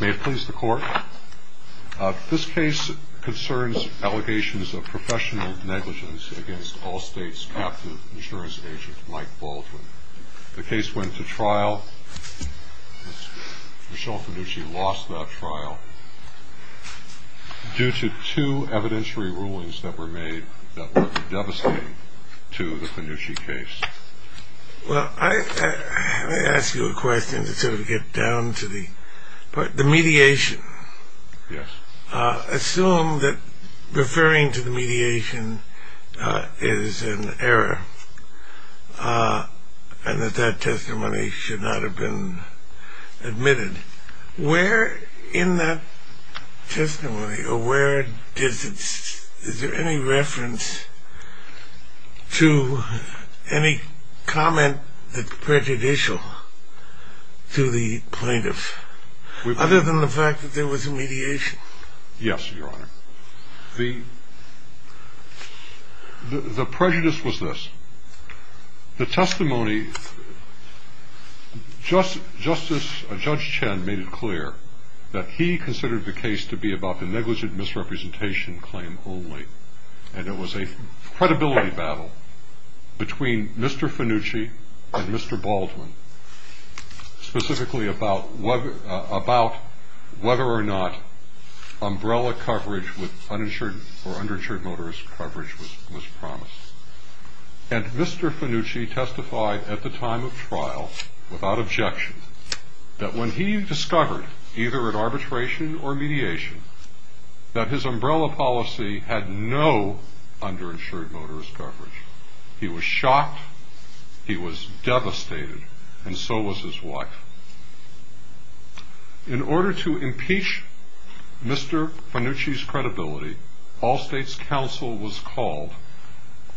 May it please the court. This case concerns allegations of professional negligence against Allstate's captive insurance agent Mike Baldwin. The case went to trial. Michelle Fanucci lost that trial due to two evidentiary rulings that were made that were devastating to the Fanucci case. Well, let me ask you a question to sort of get down to the mediation. Assume that referring to the mediation is an error and that that testimony should not have been admitted. Where in that testimony or where is there any reference to any comment that's prejudicial to the plaintiff other than the fact that there was a mediation? Yes, Your Honor. The prejudice was this. The testimony, Judge Chen made it clear that he considered the case to be about the negligent misrepresentation claim only. And it was a credibility battle between Mr. Fanucci and Mr. Baldwin specifically about whether or not umbrella coverage with uninsured or underinsured motorist coverage was promised. And Mr. Fanucci testified at the time of trial without objection that when he discovered either an arbitration or mediation that his umbrella policy had no underinsured motorist coverage. He was shocked. He was devastated. And so was his wife. In order to impeach Mr. Fanucci's credibility, Allstate's counsel was called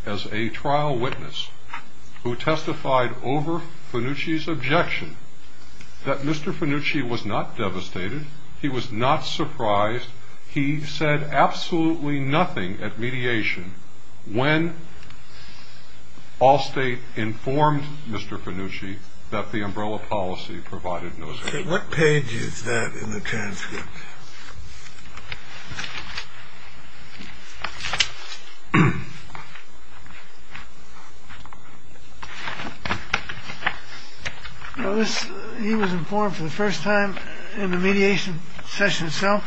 as a trial witness who testified over Fanucci's objection that Mr. Fanucci was not devastated. He was not surprised. He said absolutely nothing at mediation when Allstate informed Mr. Fanucci that the umbrella policy provided no coverage. What page is that in the transcript? He was informed for the first time in the mediation session itself.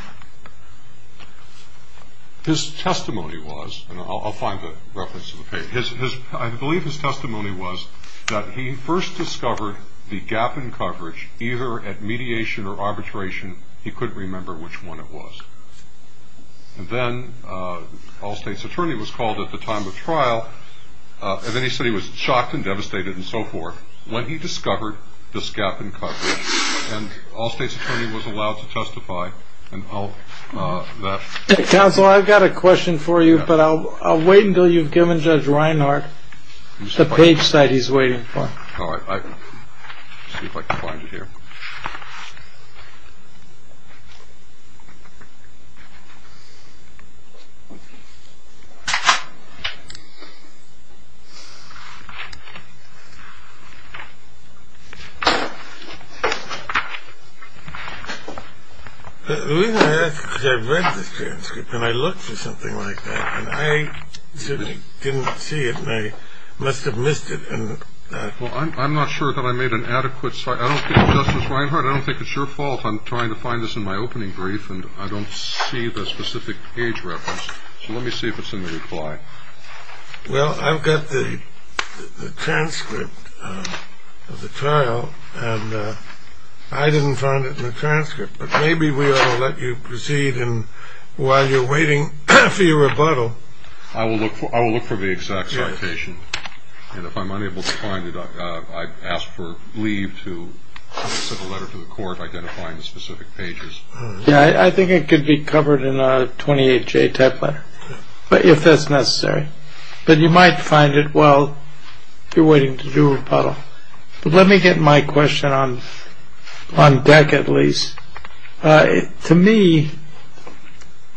His testimony was, and I'll find the reference to the page, I believe his testimony was that he first discovered the gap in coverage either at mediation or arbitration. He couldn't remember which one it was. And then Allstate's attorney was called at the time of trial. And then he said he was shocked and devastated and so forth when he discovered this gap in coverage. And Allstate's attorney was allowed to testify. All right. Counsel, I've got a question for you, but I'll wait until you've given Judge Reinhart the page that he's waiting for. All right. See if I can find it here. I read the transcript and I looked for something like that and I certainly didn't see it and I must have missed it. Well, I'm not sure that I made an adequate, I don't think it's Justice Reinhart, I don't think it's your fault I'm trying to find this in my opening brief and I don't see the specific page reference. So let me see if it's in the reply. Well, I've got the transcript of the trial and I didn't find it in the transcript, but maybe we ought to let you proceed while you're waiting for your rebuttal. I will look for the exact citation and if I'm unable to find it, I ask for leave to send a letter to the court identifying the specific pages. Yeah, I think it could be covered in a 28-J type letter, if that's necessary. But you might find it while you're waiting to do rebuttal. Let me get my question on deck at least. To me,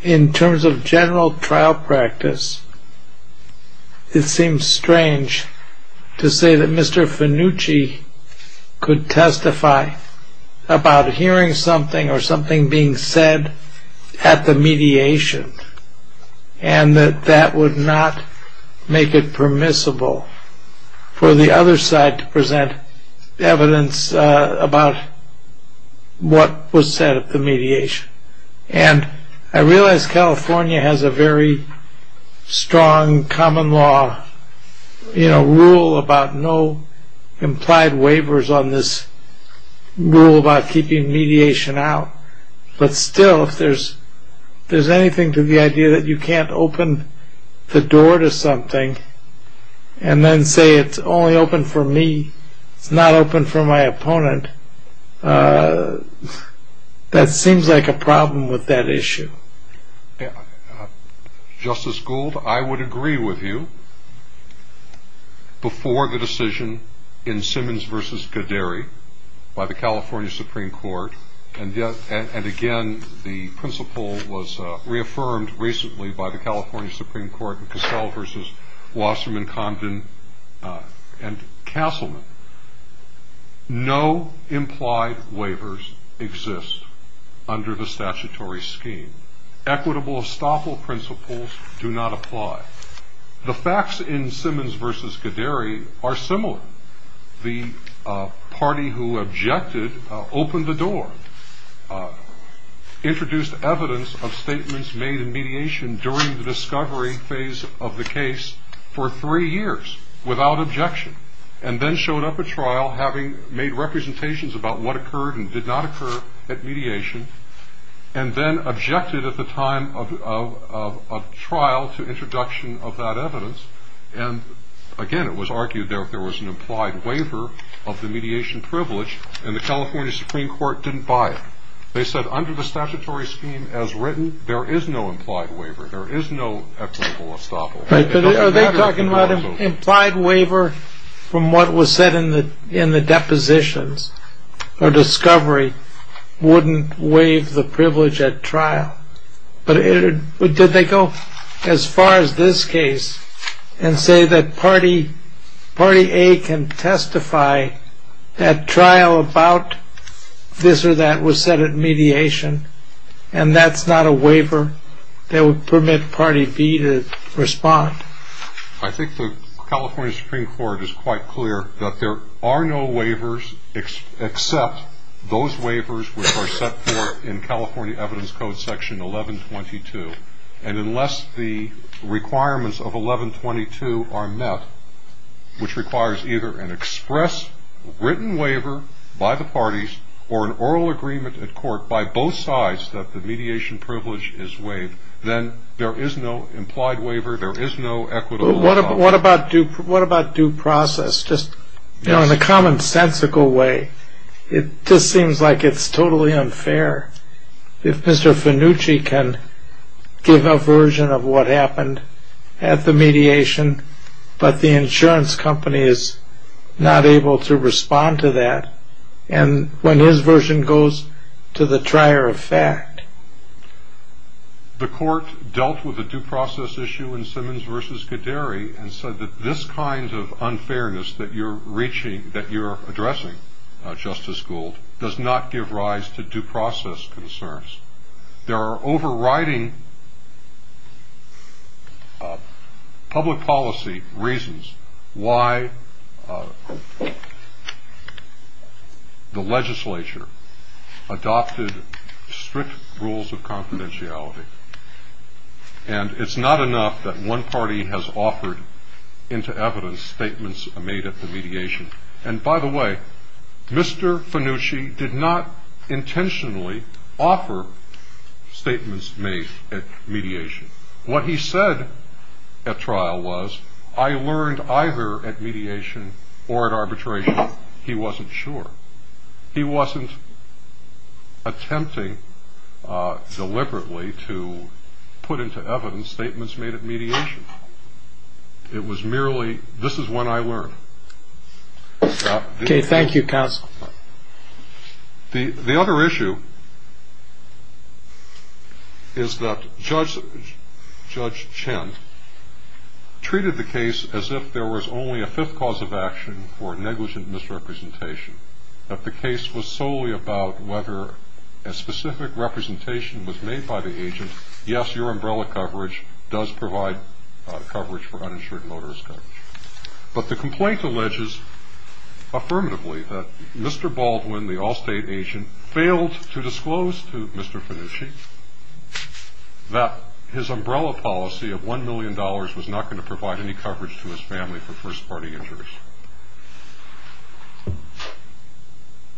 in terms of general trial practice, it seems strange to say that Mr. Finucci could testify about hearing something or something being said at the mediation and that that would not make it permissible for the other side to present evidence about what was said at the mediation. And I realize California has a very strong common law rule about no implied waivers on this rule about keeping mediation out, but still if there's anything to the idea that you can't open the door to something and then say it's only open for me, it's not open for my opponent, that seems like a problem with that issue. Justice Gould, I would agree with you. Before the decision in Simmons v. Gaderi by the California Supreme Court, and again the principle was reaffirmed recently by the California Supreme Court in Cassell v. Wasserman, Condon, and Castleman, no implied waivers exist under the statutory scheme. Equitable estoppel principles do not apply. The facts in Simmons v. Gaderi are similar. The party who objected opened the door, introduced evidence of statements made in mediation during the discovery phase of the case for three years without objection, and then showed up at trial having made representations about what occurred and did not occur at mediation, and then objected at the time of trial to introduction of that evidence, and again it was argued that there was an implied waiver of the mediation privilege, and the California Supreme Court didn't buy it. They said under the statutory scheme as written, there is no implied waiver. There is no equitable estoppel. Are they talking about implied waiver from what was said in the depositions or discovery wouldn't waive the privilege at trial? Did they go as far as this case and say that party A can testify at trial about this or that was said at mediation, and that's not a waiver that would permit party B to respond? I think the California Supreme Court is quite clear that there are no waivers except those waivers which are set forth in California Evidence Code section 1122, and unless the requirements of 1122 are met, which requires either an express written waiver by the parties or an oral agreement at court by both sides that the mediation privilege is waived, then there is no implied waiver. There is no equitable estoppel. What about due process? Just in a commonsensical way, it just seems like it's totally unfair. If Mr. Fenucci can give a version of what happened at the mediation, but the insurance company is not able to respond to that, and when his version goes to the trier of fact. The court dealt with a due process issue in Simmons v. Gaderi and said that this kind of unfairness that you're addressing, Justice Gould, does not give rise to due process concerns. There are overriding public policy reasons why the legislature adopted strict rules of confidentiality, and it's not enough that one party has offered into evidence statements made at the mediation. And by the way, Mr. Fenucci did not intentionally offer statements made at mediation. What he said at trial was, I learned either at mediation or at arbitration. He wasn't sure. He wasn't attempting deliberately to put into evidence statements made at mediation. It was merely, this is what I learned. Okay, thank you, counsel. The other issue is that Judge Chen treated the case as if there was only a fifth cause of action for negligent misrepresentation, that the case was solely about whether a specific representation was made by the agent. Yes, your umbrella coverage does provide coverage for uninsured motorist coverage. But the complaint alleges affirmatively that Mr. Baldwin, the Allstate agent, failed to disclose to Mr. Fenucci that his umbrella policy of $1 million was not going to provide any coverage to his family for first-party injuries.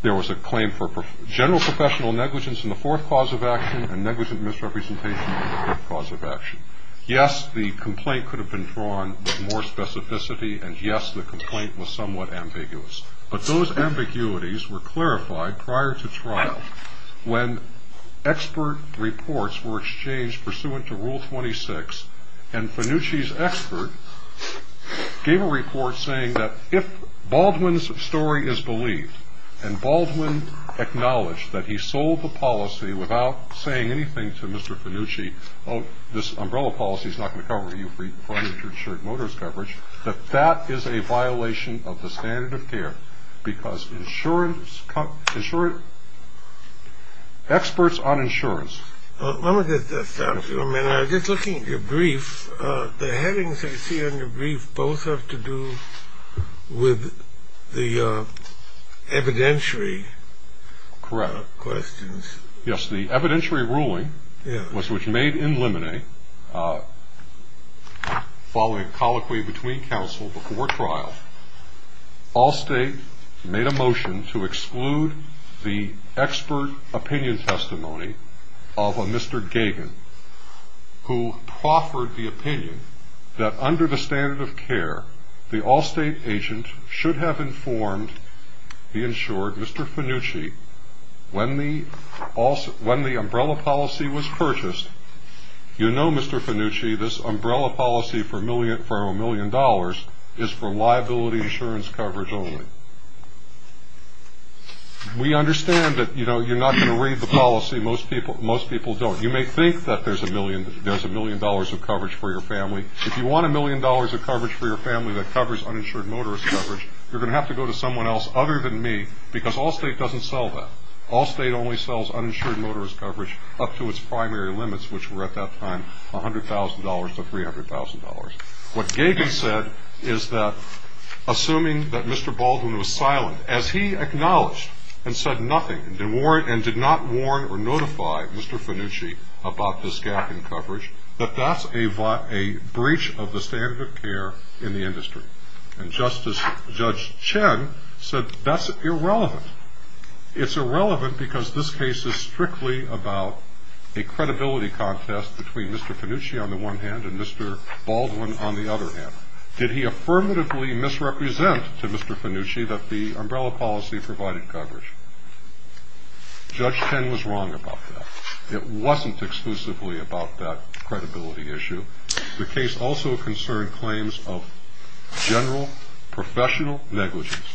There was a claim for general professional negligence in the fourth cause of action and negligent misrepresentation in the fifth cause of action. Yes, the complaint could have been drawn with more specificity, and yes, the complaint was somewhat ambiguous. But those ambiguities were clarified prior to trial when expert reports were exchanged pursuant to Rule 26, and Fenucci's expert gave a report saying that if Baldwin's story is believed and Baldwin acknowledged that he sold the policy without saying anything to Mr. Fenucci, oh, this umbrella policy is not going to cover you for uninsured motorist coverage, that that is a violation of the standard of care because experts on insurance. Let me just stop you for a minute. I was just looking at your brief. The headings I see on your brief both have to do with the evidentiary questions. Yes, the evidentiary ruling was which made in limine, following colloquy between counsel before trial, Allstate made a motion to exclude the expert opinion testimony of a Mr. Gagin who proffered the opinion that under the standard of care, the Allstate agent should have informed the insured Mr. Fenucci when the umbrella policy was purchased, you know, Mr. Fenucci, this umbrella policy for a million dollars is for liability insurance coverage only. We understand that, you know, you're not going to read the policy, most people don't. You may think that there's a million dollars of coverage for your family. If you want a million dollars of coverage for your family that covers uninsured motorist coverage, you're going to have to go to someone else other than me because Allstate doesn't sell that. Allstate only sells uninsured motorist coverage up to its primary limits, which were at that time $100,000 to $300,000. What Gagin said is that assuming that Mr. Baldwin was silent as he acknowledged and said nothing and did not warn or notify Mr. Fenucci about this gap in coverage, that that's a breach of the standard of care in the industry. And Justice Judge Chen said that's irrelevant. It's irrelevant because this case is strictly about a credibility contest between Mr. Fenucci on the one hand and Mr. Baldwin on the other hand. Did he affirmatively misrepresent to Mr. Fenucci that the umbrella policy provided coverage? Judge Chen was wrong about that. It wasn't exclusively about that credibility issue. The case also concerned claims of general professional negligence.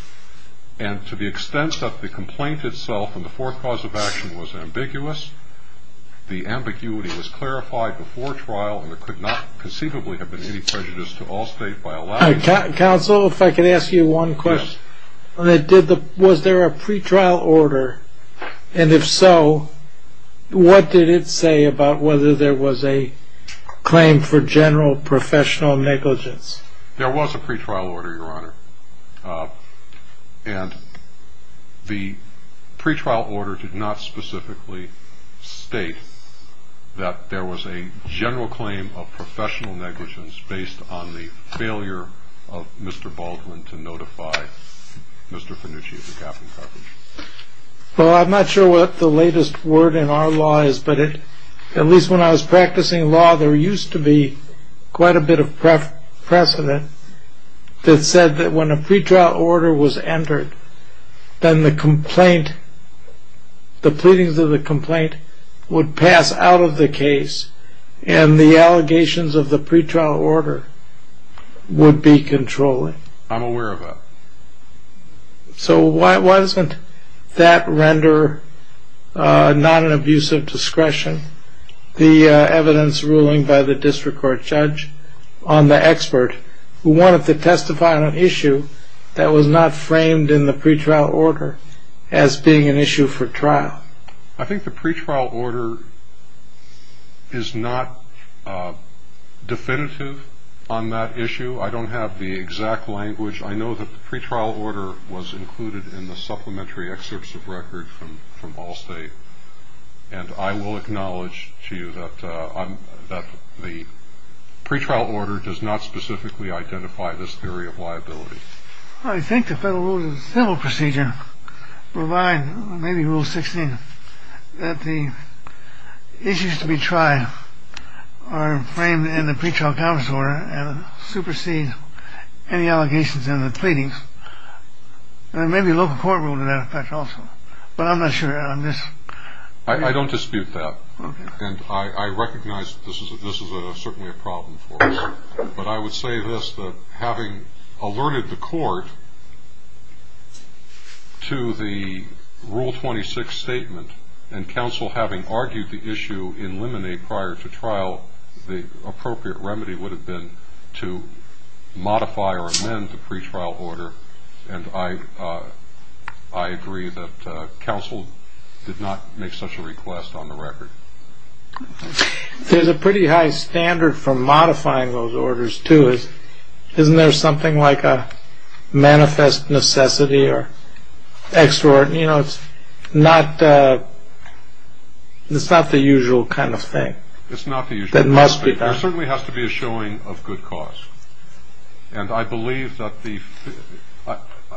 And to the extent that the complaint itself and the fourth cause of action was ambiguous, the ambiguity was clarified before trial and there could not conceivably have been any prejudice to Allstate by allowing it. Counsel, if I could ask you one question. Yes. Was there a pretrial order? And if so, what did it say about whether there was a claim for general professional negligence? There was a pretrial order, Your Honor. And the pretrial order did not specifically state that there was a general claim of professional negligence based on the failure of Mr. Baldwin to notify Mr. Fenucci of the gap in coverage. Well, I'm not sure what the latest word in our law is, but at least when I was practicing law, there used to be quite a bit of precedent that said that when a pretrial order was entered, then the complaint, the pleadings of the complaint would pass out of the case and the allegations of the pretrial order would be controlled. I'm aware of that. So why doesn't that render not an abuse of discretion? The evidence ruling by the district court judge on the expert who wanted to testify on an issue that was not framed in the pretrial order as being an issue for trial. I think the pretrial order is not definitive on that issue. I don't have the exact language. I know that the pretrial order was included in the supplementary excerpts of record from Allstate, and I will acknowledge to you that the pretrial order does not specifically identify this theory of liability. I think the federal rules of civil procedure provide maybe Rule 16, that the issues to be tried are framed in the pretrial comments order and supersede any allegations in the pleadings. There may be a local court rule to that effect also, but I'm not sure on this. I don't dispute that, and I recognize that this is certainly a problem for us, but I would say this, that having alerted the court to the Rule 26 statement and counsel having argued the issue in limine prior to trial, the appropriate remedy would have been to modify or amend the pretrial order, and I agree that counsel did not make such a request on the record. There's a pretty high standard for modifying those orders, too. Isn't there something like a manifest necessity or extraordinary? You know, it's not the usual kind of thing. That must be done. There certainly has to be a showing of good cause, and I believe that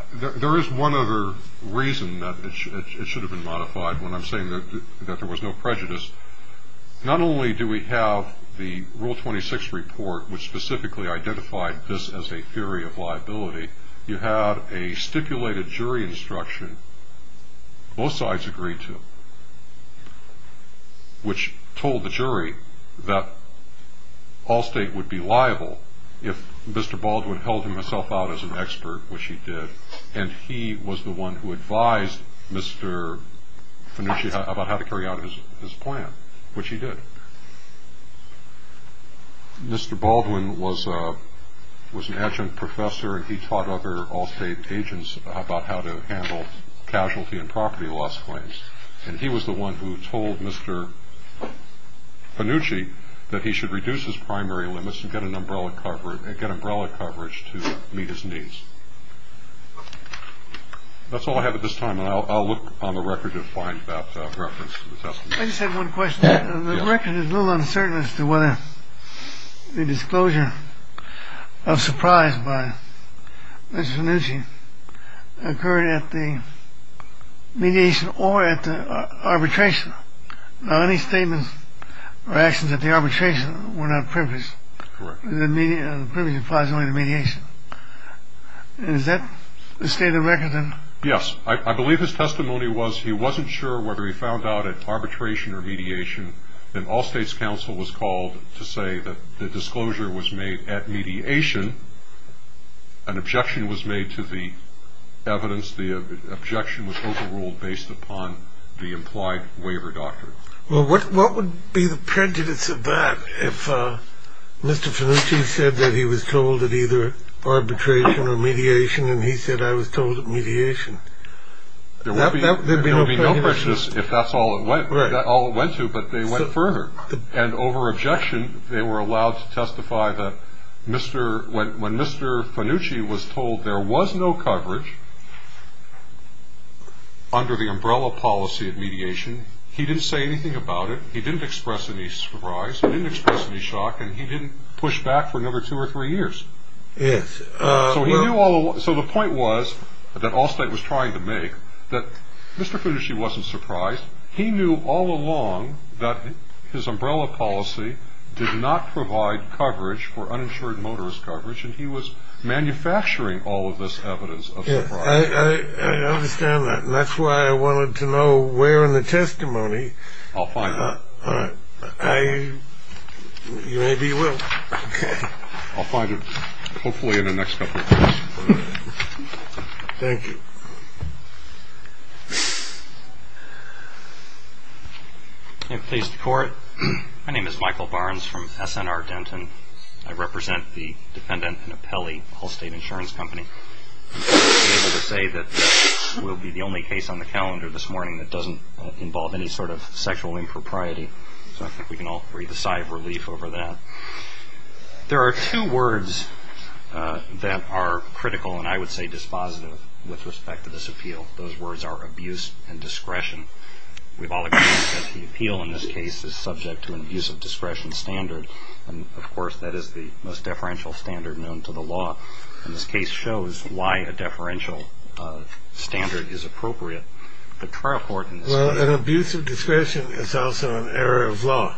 there is one other reason that it should have been modified when I'm saying that there was no prejudice. Not only do we have the Rule 26 report, which specifically identified this as a theory of liability, you have a stipulated jury instruction both sides agree to, which told the jury that Allstate would be liable if Mr. Baldwin held himself out as an expert, which he did, and he was the one who advised Mr. Fenucci about how to carry out his plan, which he did. Mr. Baldwin was an adjunct professor, and he taught other Allstate agents about how to handle casualty and property loss claims, and he was the one who told Mr. Fenucci that he should reduce his primary limits and get umbrella coverage to meet his needs. That's all I have at this time, and I'll look on the record to find that reference to the testimony. I just have one question. The record is a little uncertain as to whether the disclosure of surprise by Mr. Fenucci occurred at the mediation or at the arbitration. Now, any statements or actions at the arbitration were not privileged. The privilege applies only to mediation. Is that the state of the record? Yes. I believe his testimony was he wasn't sure whether he found out at arbitration or mediation, and Allstate's counsel was called to say that the disclosure was made at mediation. An objection was made to the evidence. The objection was overruled based upon the implied waiver doctrine. Well, what would be the prejudice of that if Mr. Fenucci said that he was told at either arbitration or mediation and he said I was told at mediation? There would be no prejudice if that's all it went to, but they went further. And over objection, they were allowed to testify that when Mr. Fenucci was told there was no coverage under the umbrella policy of mediation, he didn't say anything about it. He didn't express any surprise. He didn't express any shock. And he didn't push back for another two or three years. Yes. So the point was that Allstate was trying to make that Mr. Fenucci wasn't surprised. He knew all along that his umbrella policy did not provide coverage for uninsured motorist coverage, and he was manufacturing all of this evidence of surprise. I understand that, and that's why I wanted to know where in the testimony. I'll find it. All right. Maybe you will. Okay. I'll find it hopefully in the next couple of days. Thank you. May it please the Court? My name is Michael Barnes from S.N.R. Denton. I represent the dependent and appellee Allstate Insurance Company. I'm able to say that this will be the only case on the calendar this morning that doesn't involve any sort of sexual impropriety, so I think we can all breathe a sigh of relief over that. There are two words that are critical and I would say dispositive with respect to this appeal. Those words are abuse and discretion. We've all agreed that the appeal in this case is subject to an abuse of discretion standard, and of course that is the most deferential standard known to the law. And this case shows why a deferential standard is appropriate. Well, an abuse of discretion is also an error of law.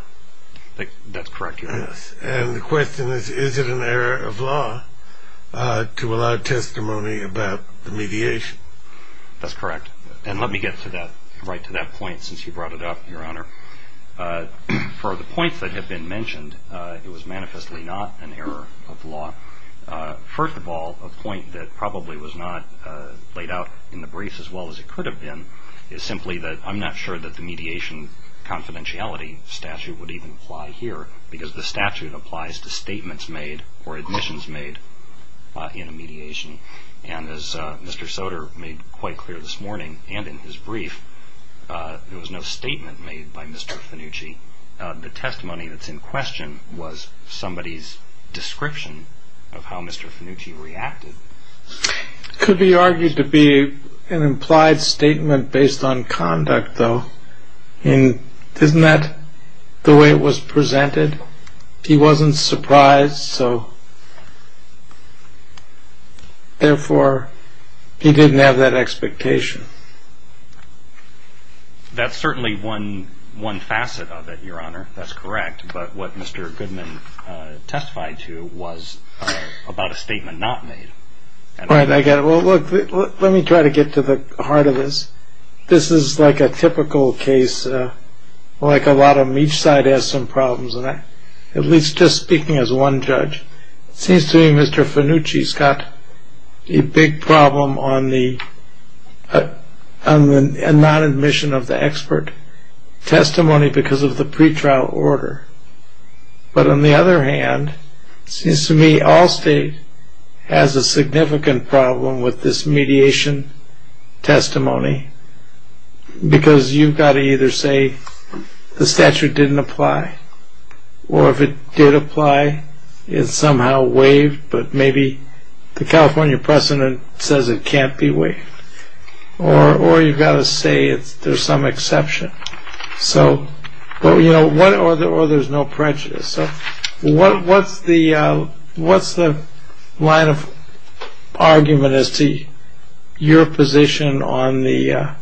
That's correct, Your Honor. And the question is, is it an error of law to allow testimony about the mediation? That's correct. And let me get right to that point since you brought it up, Your Honor. For the points that have been mentioned, it was manifestly not an error of law. First of all, a point that probably was not laid out in the briefs as well as it could have been is simply that I'm not sure that the mediation confidentiality statute would even apply here because the statute applies to statements made or admissions made in a mediation. And as Mr. Soter made quite clear this morning and in his brief, there was no statement made by Mr. Fenucci. The testimony that's in question was somebody's description of how Mr. Fenucci reacted. It could be argued to be an implied statement based on conduct, though, and isn't that the way it was presented? He wasn't surprised, so therefore he didn't have that expectation. That's certainly one facet of it, Your Honor. That's correct. But what Mr. Goodman testified to was about a statement not made. Right, I get it. Well, look, let me try to get to the heart of this. This is like a typical case, like a lot of them. Each side has some problems, at least just speaking as one judge. It seems to me Mr. Fenucci's got a big problem on the non-admission of the expert testimony because of the pretrial order. But on the other hand, it seems to me Allstate has a significant problem with this mediation testimony because you've got to either say the statute didn't apply, or if it did apply, it's somehow waived, but maybe the California precedent says it can't be waived, or you've got to say there's some exception, or there's no prejudice. So what's the line of argument as to your position on the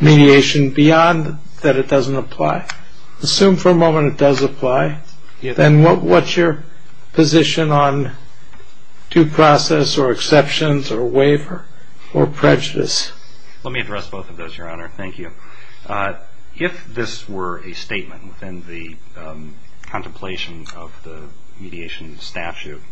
mediation beyond that it doesn't apply? Assume for a moment it does apply, then what's your position on due process or exceptions or waiver or prejudice? Let me address both of those, Your Honor. Thank you. If this were a statement within the contemplation of the mediation statute,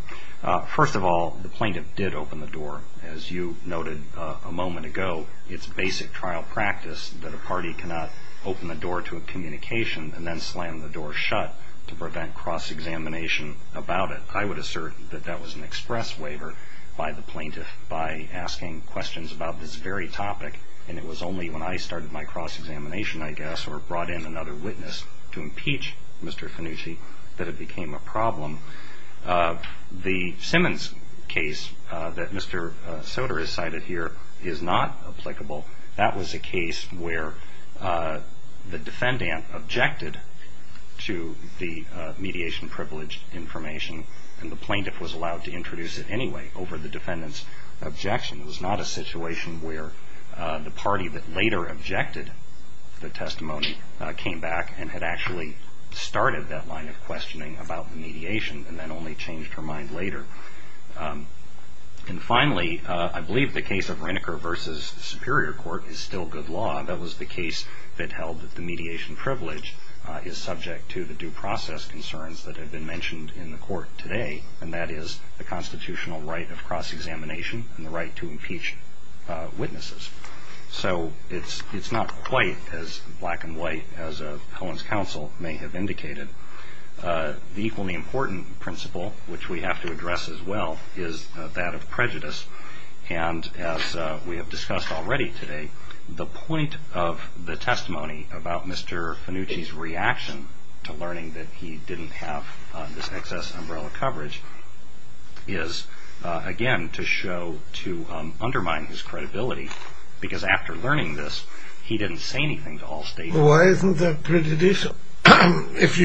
first of all, the plaintiff did open the door, as you noted a moment ago. It's basic trial practice that a party cannot open the door to a communication and then slam the door shut to prevent cross-examination about it. I would assert that that was an express waiver by the plaintiff by asking questions about this very topic, and it was only when I started my cross-examination, I guess, or brought in another witness to impeach Mr. Fenucci that it became a problem. The Simmons case that Mr. Soter has cited here is not applicable. That was a case where the defendant objected to the mediation privilege information, and the plaintiff was allowed to introduce it anyway over the defendant's objection. It was not a situation where the party that later objected the testimony came back and had actually started that line of questioning about the mediation and then only changed her mind later. And finally, I believe the case of Reneker v. Superior Court is still good law. That was the case that held that the mediation privilege is subject to the due process concerns that have been mentioned in the court today, and that is the constitutional right of cross-examination and the right to impeach witnesses. So it's not quite as black and white as Cohen's counsel may have indicated. The equally important principle, which we have to address as well, is that of prejudice. And as we have discussed already today, the point of the testimony about Mr. Fenucci's reaction to learning that he didn't have this excess umbrella coverage is, again, to show, to undermine his credibility because after learning this, he didn't say anything to all states. Why isn't that prejudicial if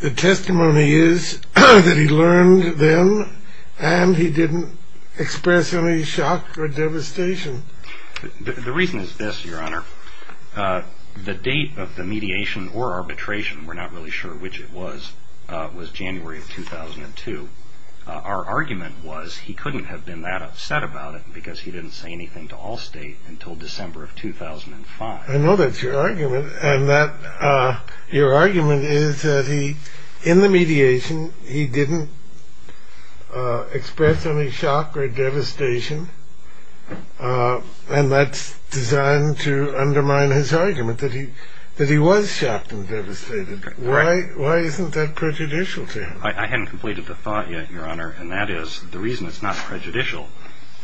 the testimony is that he learned then and he didn't express any shock or devastation? The reason is this, Your Honor. The date of the mediation or arbitration, we're not really sure which it was, was January of 2002. Our argument was he couldn't have been that upset about it because he didn't say anything to all states until December of 2005. I know that's your argument. Your argument is that in the mediation, he didn't express any shock or devastation, and that's designed to undermine his argument that he was shocked and devastated. Why isn't that prejudicial to him? I hadn't completed the thought yet, Your Honor, and that is the reason it's not prejudicial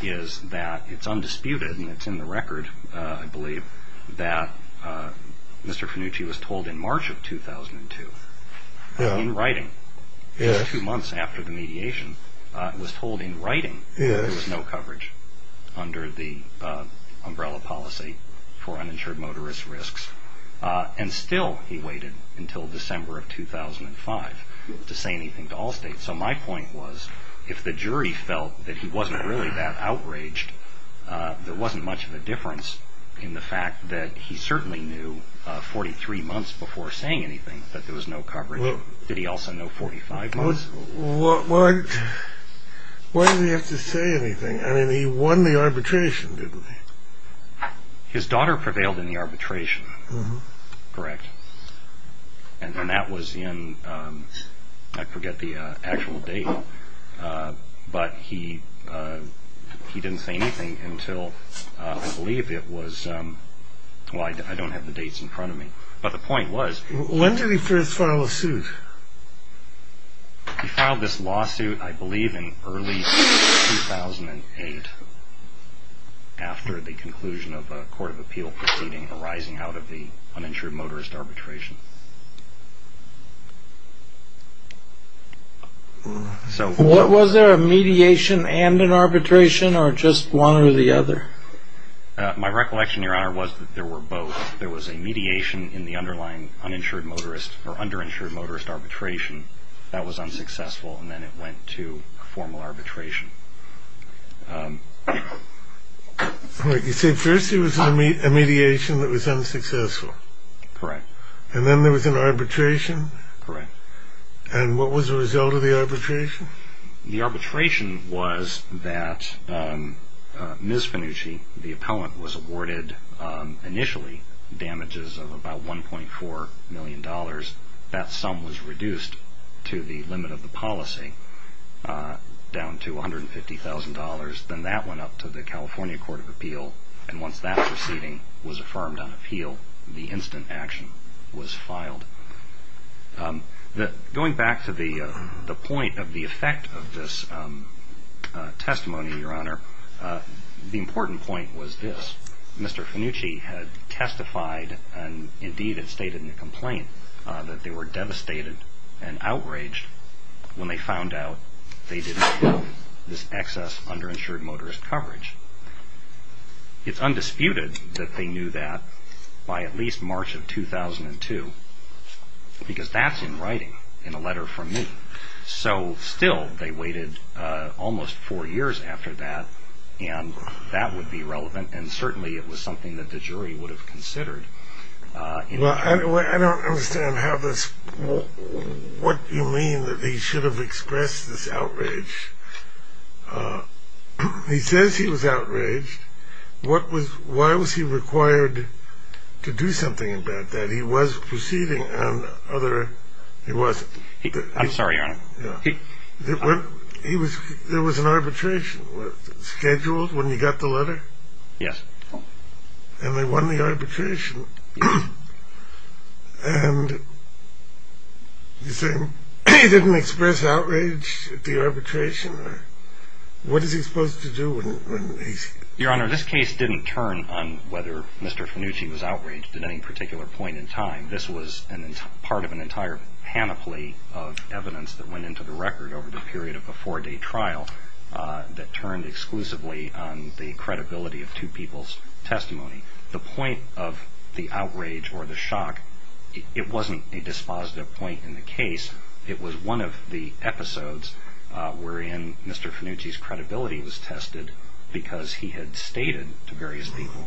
is that it's undisputed and it's in the record, I believe, that Mr. Fenucci was told in March of 2002, in writing, two months after the mediation, was told in writing that there was no coverage under the umbrella policy for uninsured motorist risks, and still he waited until December of 2005 to say anything to all states. So my point was if the jury felt that he wasn't really that outraged, there wasn't much of a difference in the fact that he certainly knew 43 months before saying anything that there was no coverage. Did he also know 45 months? Why did he have to say anything? I mean, he won the arbitration, didn't he? His daughter prevailed in the arbitration, correct, and that was in, I forget the actual date, but he didn't say anything until, I believe it was, well, I don't have the dates in front of me, but the point was... When did he first file a suit? He filed this lawsuit, I believe, in early 2008 after the conclusion of a court of appeal proceeding arising out of the uninsured motorist arbitration. Was there a mediation and an arbitration, or just one or the other? My recollection, Your Honor, was that there were both. There was a mediation in the underlying uninsured motorist, or underinsured motorist arbitration that was unsuccessful, and then it went to formal arbitration. All right. You said first there was a mediation that was unsuccessful. Correct. And then there was an arbitration? Correct. And what was the result of the arbitration? The arbitration was that Ms. Fenucci, the appellant, was awarded initially damages of about $1.4 million. That sum was reduced to the limit of the policy down to $150,000. Then that went up to the California Court of Appeal, and once that proceeding was affirmed on appeal, the instant action was filed. Going back to the point of the effect of this testimony, Your Honor, the important point was this. Mr. Fenucci had testified, and indeed had stated in the complaint, that they were devastated and outraged when they found out they didn't have this excess underinsured motorist coverage. It's undisputed that they knew that by at least March of 2002, because that's in writing in a letter from me. So still they waited almost four years after that, and that would be relevant, and certainly it was something that the jury would have considered. I don't understand what you mean that they should have expressed this outrage. He says he was outraged. Why was he required to do something about that? He was proceeding on other – he wasn't. I'm sorry, Your Honor. There was an arbitration scheduled when you got the letter? Yes. And they won the arbitration, and he didn't express outrage at the arbitration? What is he supposed to do when he's – Your Honor, this case didn't turn on whether Mr. Fenucci was outraged at any particular point in time. This was part of an entire panoply of evidence that went into the record over the period of a four-day trial that turned exclusively on the credibility of two people's testimony. The point of the outrage or the shock, it wasn't a dispositive point in the case. It was one of the episodes wherein Mr. Fenucci's credibility was tested because he had stated to various people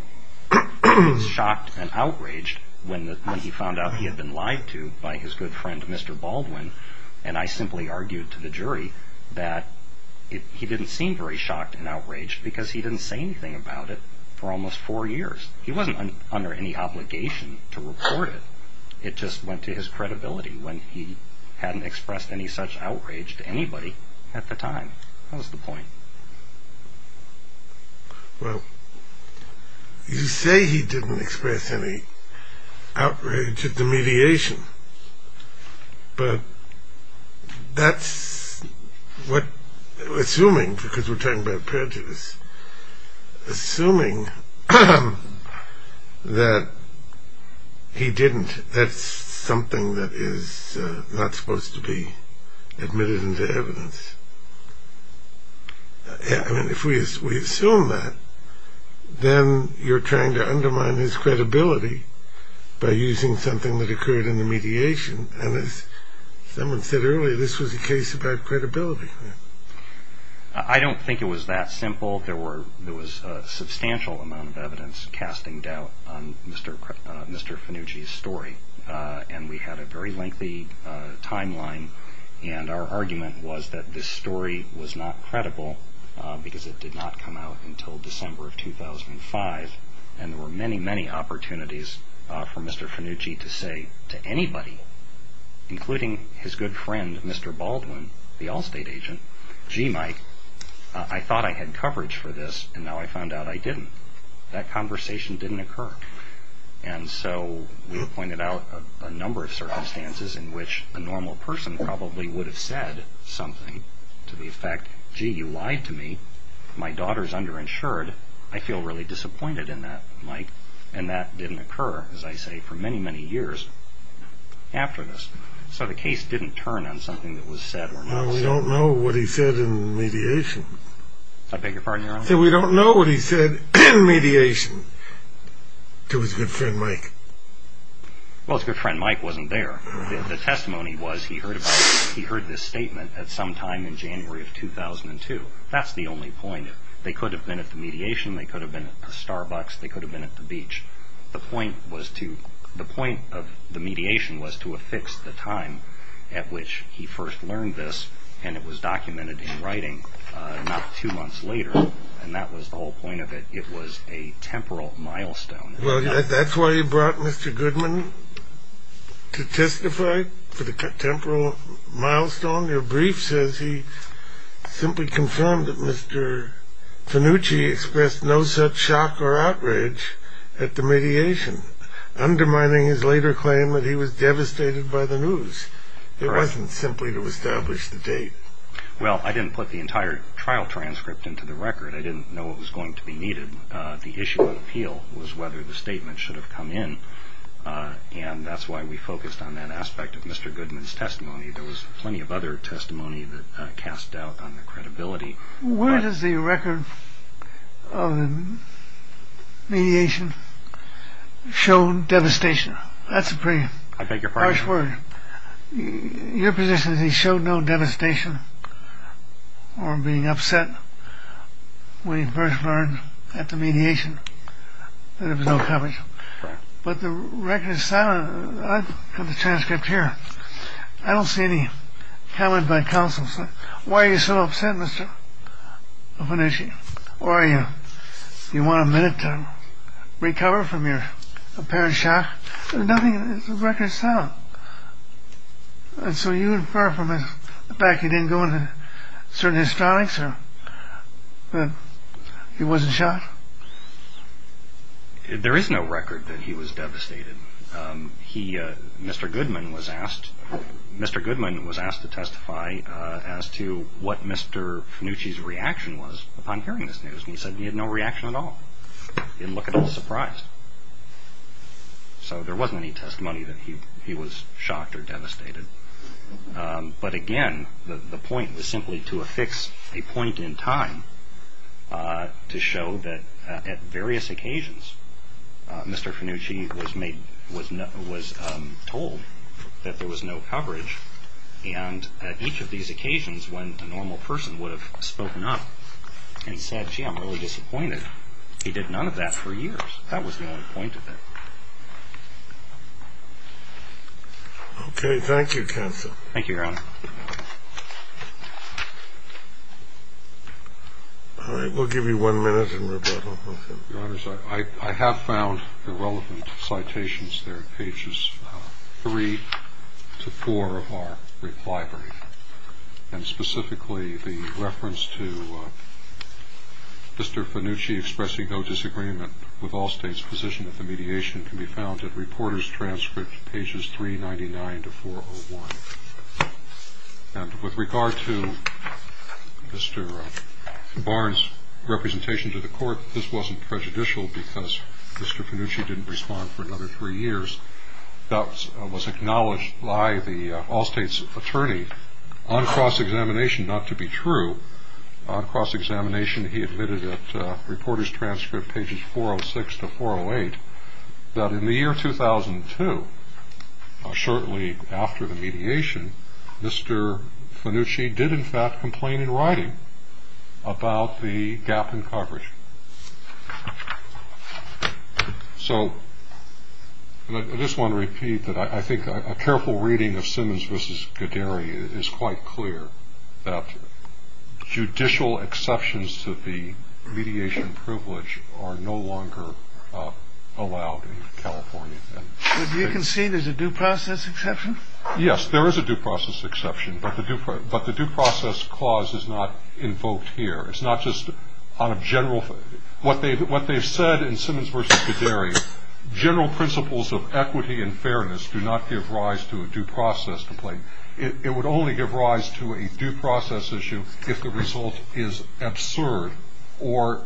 he was shocked and outraged when he found out he had been lied to by his good friend, Mr. Baldwin, and I simply argued to the jury that he didn't seem very shocked and outraged because he didn't say anything about it for almost four years. He wasn't under any obligation to report it. It just went to his credibility when he hadn't expressed any such outrage to anybody at the time. That was the point. Well, you say he didn't express any outrage at the mediation, but that's what, assuming, because we're talking about prejudice, assuming that he didn't, that's something that is not supposed to be admitted into evidence. I mean, if we assume that, then you're trying to undermine his credibility by using something that occurred in the mediation, and as someone said earlier, this was a case about credibility. I don't think it was that simple. There was a substantial amount of evidence casting doubt on Mr. Fenucci's story, and we had a very lengthy timeline, and our argument was that this story was not credible because it did not come out until December of 2005, and there were many, many opportunities for Mr. Fenucci to say to anybody, including his good friend, Mr. Baldwin, the Allstate agent, gee, Mike, I thought I had coverage for this, and now I found out I didn't. That conversation didn't occur, and so we pointed out a number of circumstances in which a normal person probably would have said something to the effect, gee, you lied to me, my daughter's underinsured, I feel really disappointed in that, Mike, and that didn't occur, as I say, for many, many years after this. So the case didn't turn on something that was said or not said. Well, we don't know what he said in mediation. I beg your pardon, Your Honor? We don't know what he said in mediation to his good friend, Mike. Well, his good friend, Mike, wasn't there. The testimony was he heard this statement at some time in January of 2002. That's the only point. They could have been at the mediation, they could have been at the Starbucks, they could have been at the beach. The point of the mediation was to affix the time at which he first learned this, and it was documented in writing not two months later, and that was the whole point of it. It was a temporal milestone. Well, that's why you brought Mr. Goodman to testify for the temporal milestone? Your brief says he simply confirmed that Mr. Fenucci expressed no such shock or outrage at the mediation, undermining his later claim that he was devastated by the news. It wasn't simply to establish the date. Well, I didn't put the entire trial transcript into the record. I didn't know what was going to be needed. The issue of appeal was whether the statement should have come in, and that's why we focused on that aspect of Mr. Goodman's testimony. There was plenty of other testimony that cast doubt on the credibility. Where does the record of the mediation show devastation? That's a pretty harsh word. Your position is he showed no devastation or being upset when he first learned at the mediation that there was no coverage. But the record is silent. I've got the transcript here. I don't see any comment by counsel. Why are you so upset, Mr. Fenucci? Do you want a minute to recover from your apparent shock? There's nothing in the record that's silent. And so you infer from the fact he didn't go into certain histronics that he wasn't shocked? There is no record that he was devastated. Mr. Goodman was asked to testify as to what Mr. Fenucci's reaction was upon hearing this news, and he said he had no reaction at all. He didn't look at all surprised. So there wasn't any testimony that he was shocked or devastated. But again, the point was simply to affix a point in time to show that at various occasions Mr. Fenucci was told that there was no coverage, and at each of these occasions when a normal person would have spoken up and said, gee, I'm really disappointed, he did none of that for years. That was the only point of it. Okay, thank you, counsel. Thank you, Your Honor. All right, we'll give you one minute and rebuttal. Your Honors, I have found the relevant citations there in pages three to four of our library, and specifically the reference to Mr. Fenucci expressing no disagreement with all states' position that the mediation can be found at reporters' transcript pages 399 to 401. And with regard to Mr. Barnes' representation to the court, this wasn't prejudicial because Mr. Fenucci didn't respond for another three years. That was acknowledged by the all-states attorney on cross-examination not to be true. On cross-examination, he admitted at reporters' transcript pages 406 to 408 that in the year 2002, shortly after the mediation, Mr. Fenucci did in fact complain in writing about the gap in coverage. So I just want to repeat that I think a careful reading of Simmons v. Goderi is quite clear that judicial exceptions to the mediation privilege are no longer allowed in California. But you concede there's a due process exception? Yes, there is a due process exception, but the due process clause is not invoked here. It's not just on a general – what they've said in Simmons v. Goderi, general principles of equity and fairness do not give rise to a due process complaint. It would only give rise to a due process issue if the result is absurd or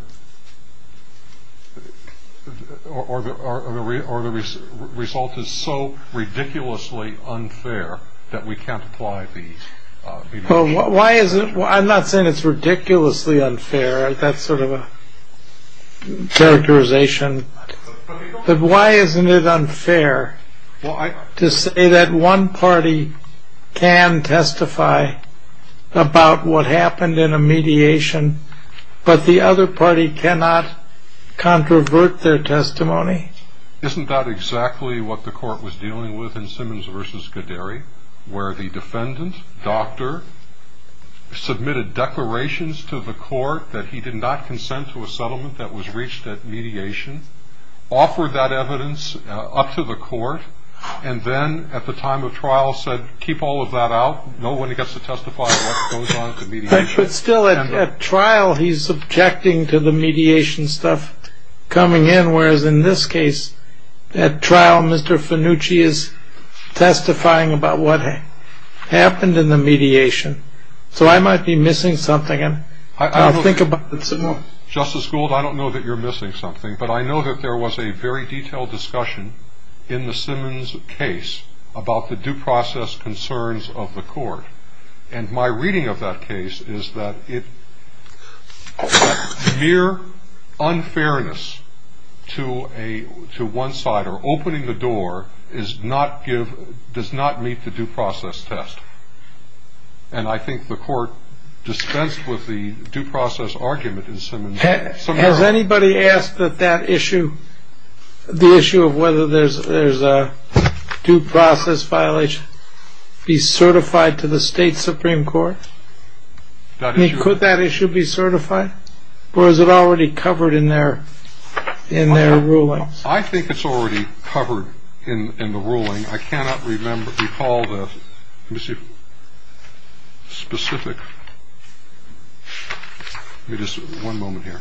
the result is so ridiculously unfair that we can't apply the mediation. Well, why is it – I'm not saying it's ridiculously unfair. That's sort of a characterization. But why isn't it unfair to say that one party can testify about what happened in a mediation, but the other party cannot controvert their testimony? Isn't that exactly what the court was dealing with in Simmons v. Goderi, where the defendant, doctor, submitted declarations to the court that he did not consent to a settlement that was reached at mediation, offered that evidence up to the court, and then at the time of trial said, keep all of that out, no one gets to testify about what goes on at the mediation. But still at trial he's objecting to the mediation stuff coming in, whereas in this case at trial Mr. Fenucci is testifying about what happened in the mediation. So I might be missing something, and I'll think about it some more. Justice Gould, I don't know that you're missing something, but I know that there was a very detailed discussion in the Simmons case about the due process concerns of the court. And my reading of that case is that mere unfairness to one side or opening the door does not meet the due process test. And I think the court dispensed with the due process argument in Simmons. Has anybody asked that that issue, the issue of whether there's a due process violation, be certified to the state Supreme Court? I mean, could that issue be certified, or is it already covered in their ruling? I think it's already covered in the ruling. I cannot recall the specific. Just one moment here.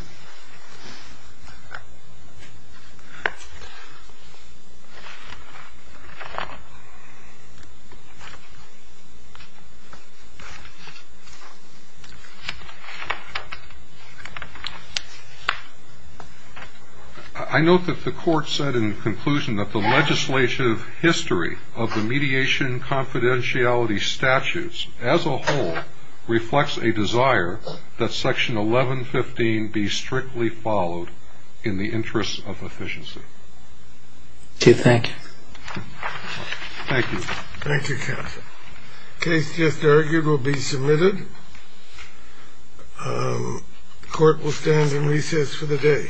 I note that the court said in conclusion that the legislative history of the mediation confidentiality statutes as a whole reflects a desire that section 1115 be strictly followed in the interest of efficiency. Chief, thank you. Thank you. Thank you, counsel. Case just argued will be submitted. The court will stand in recess for the day.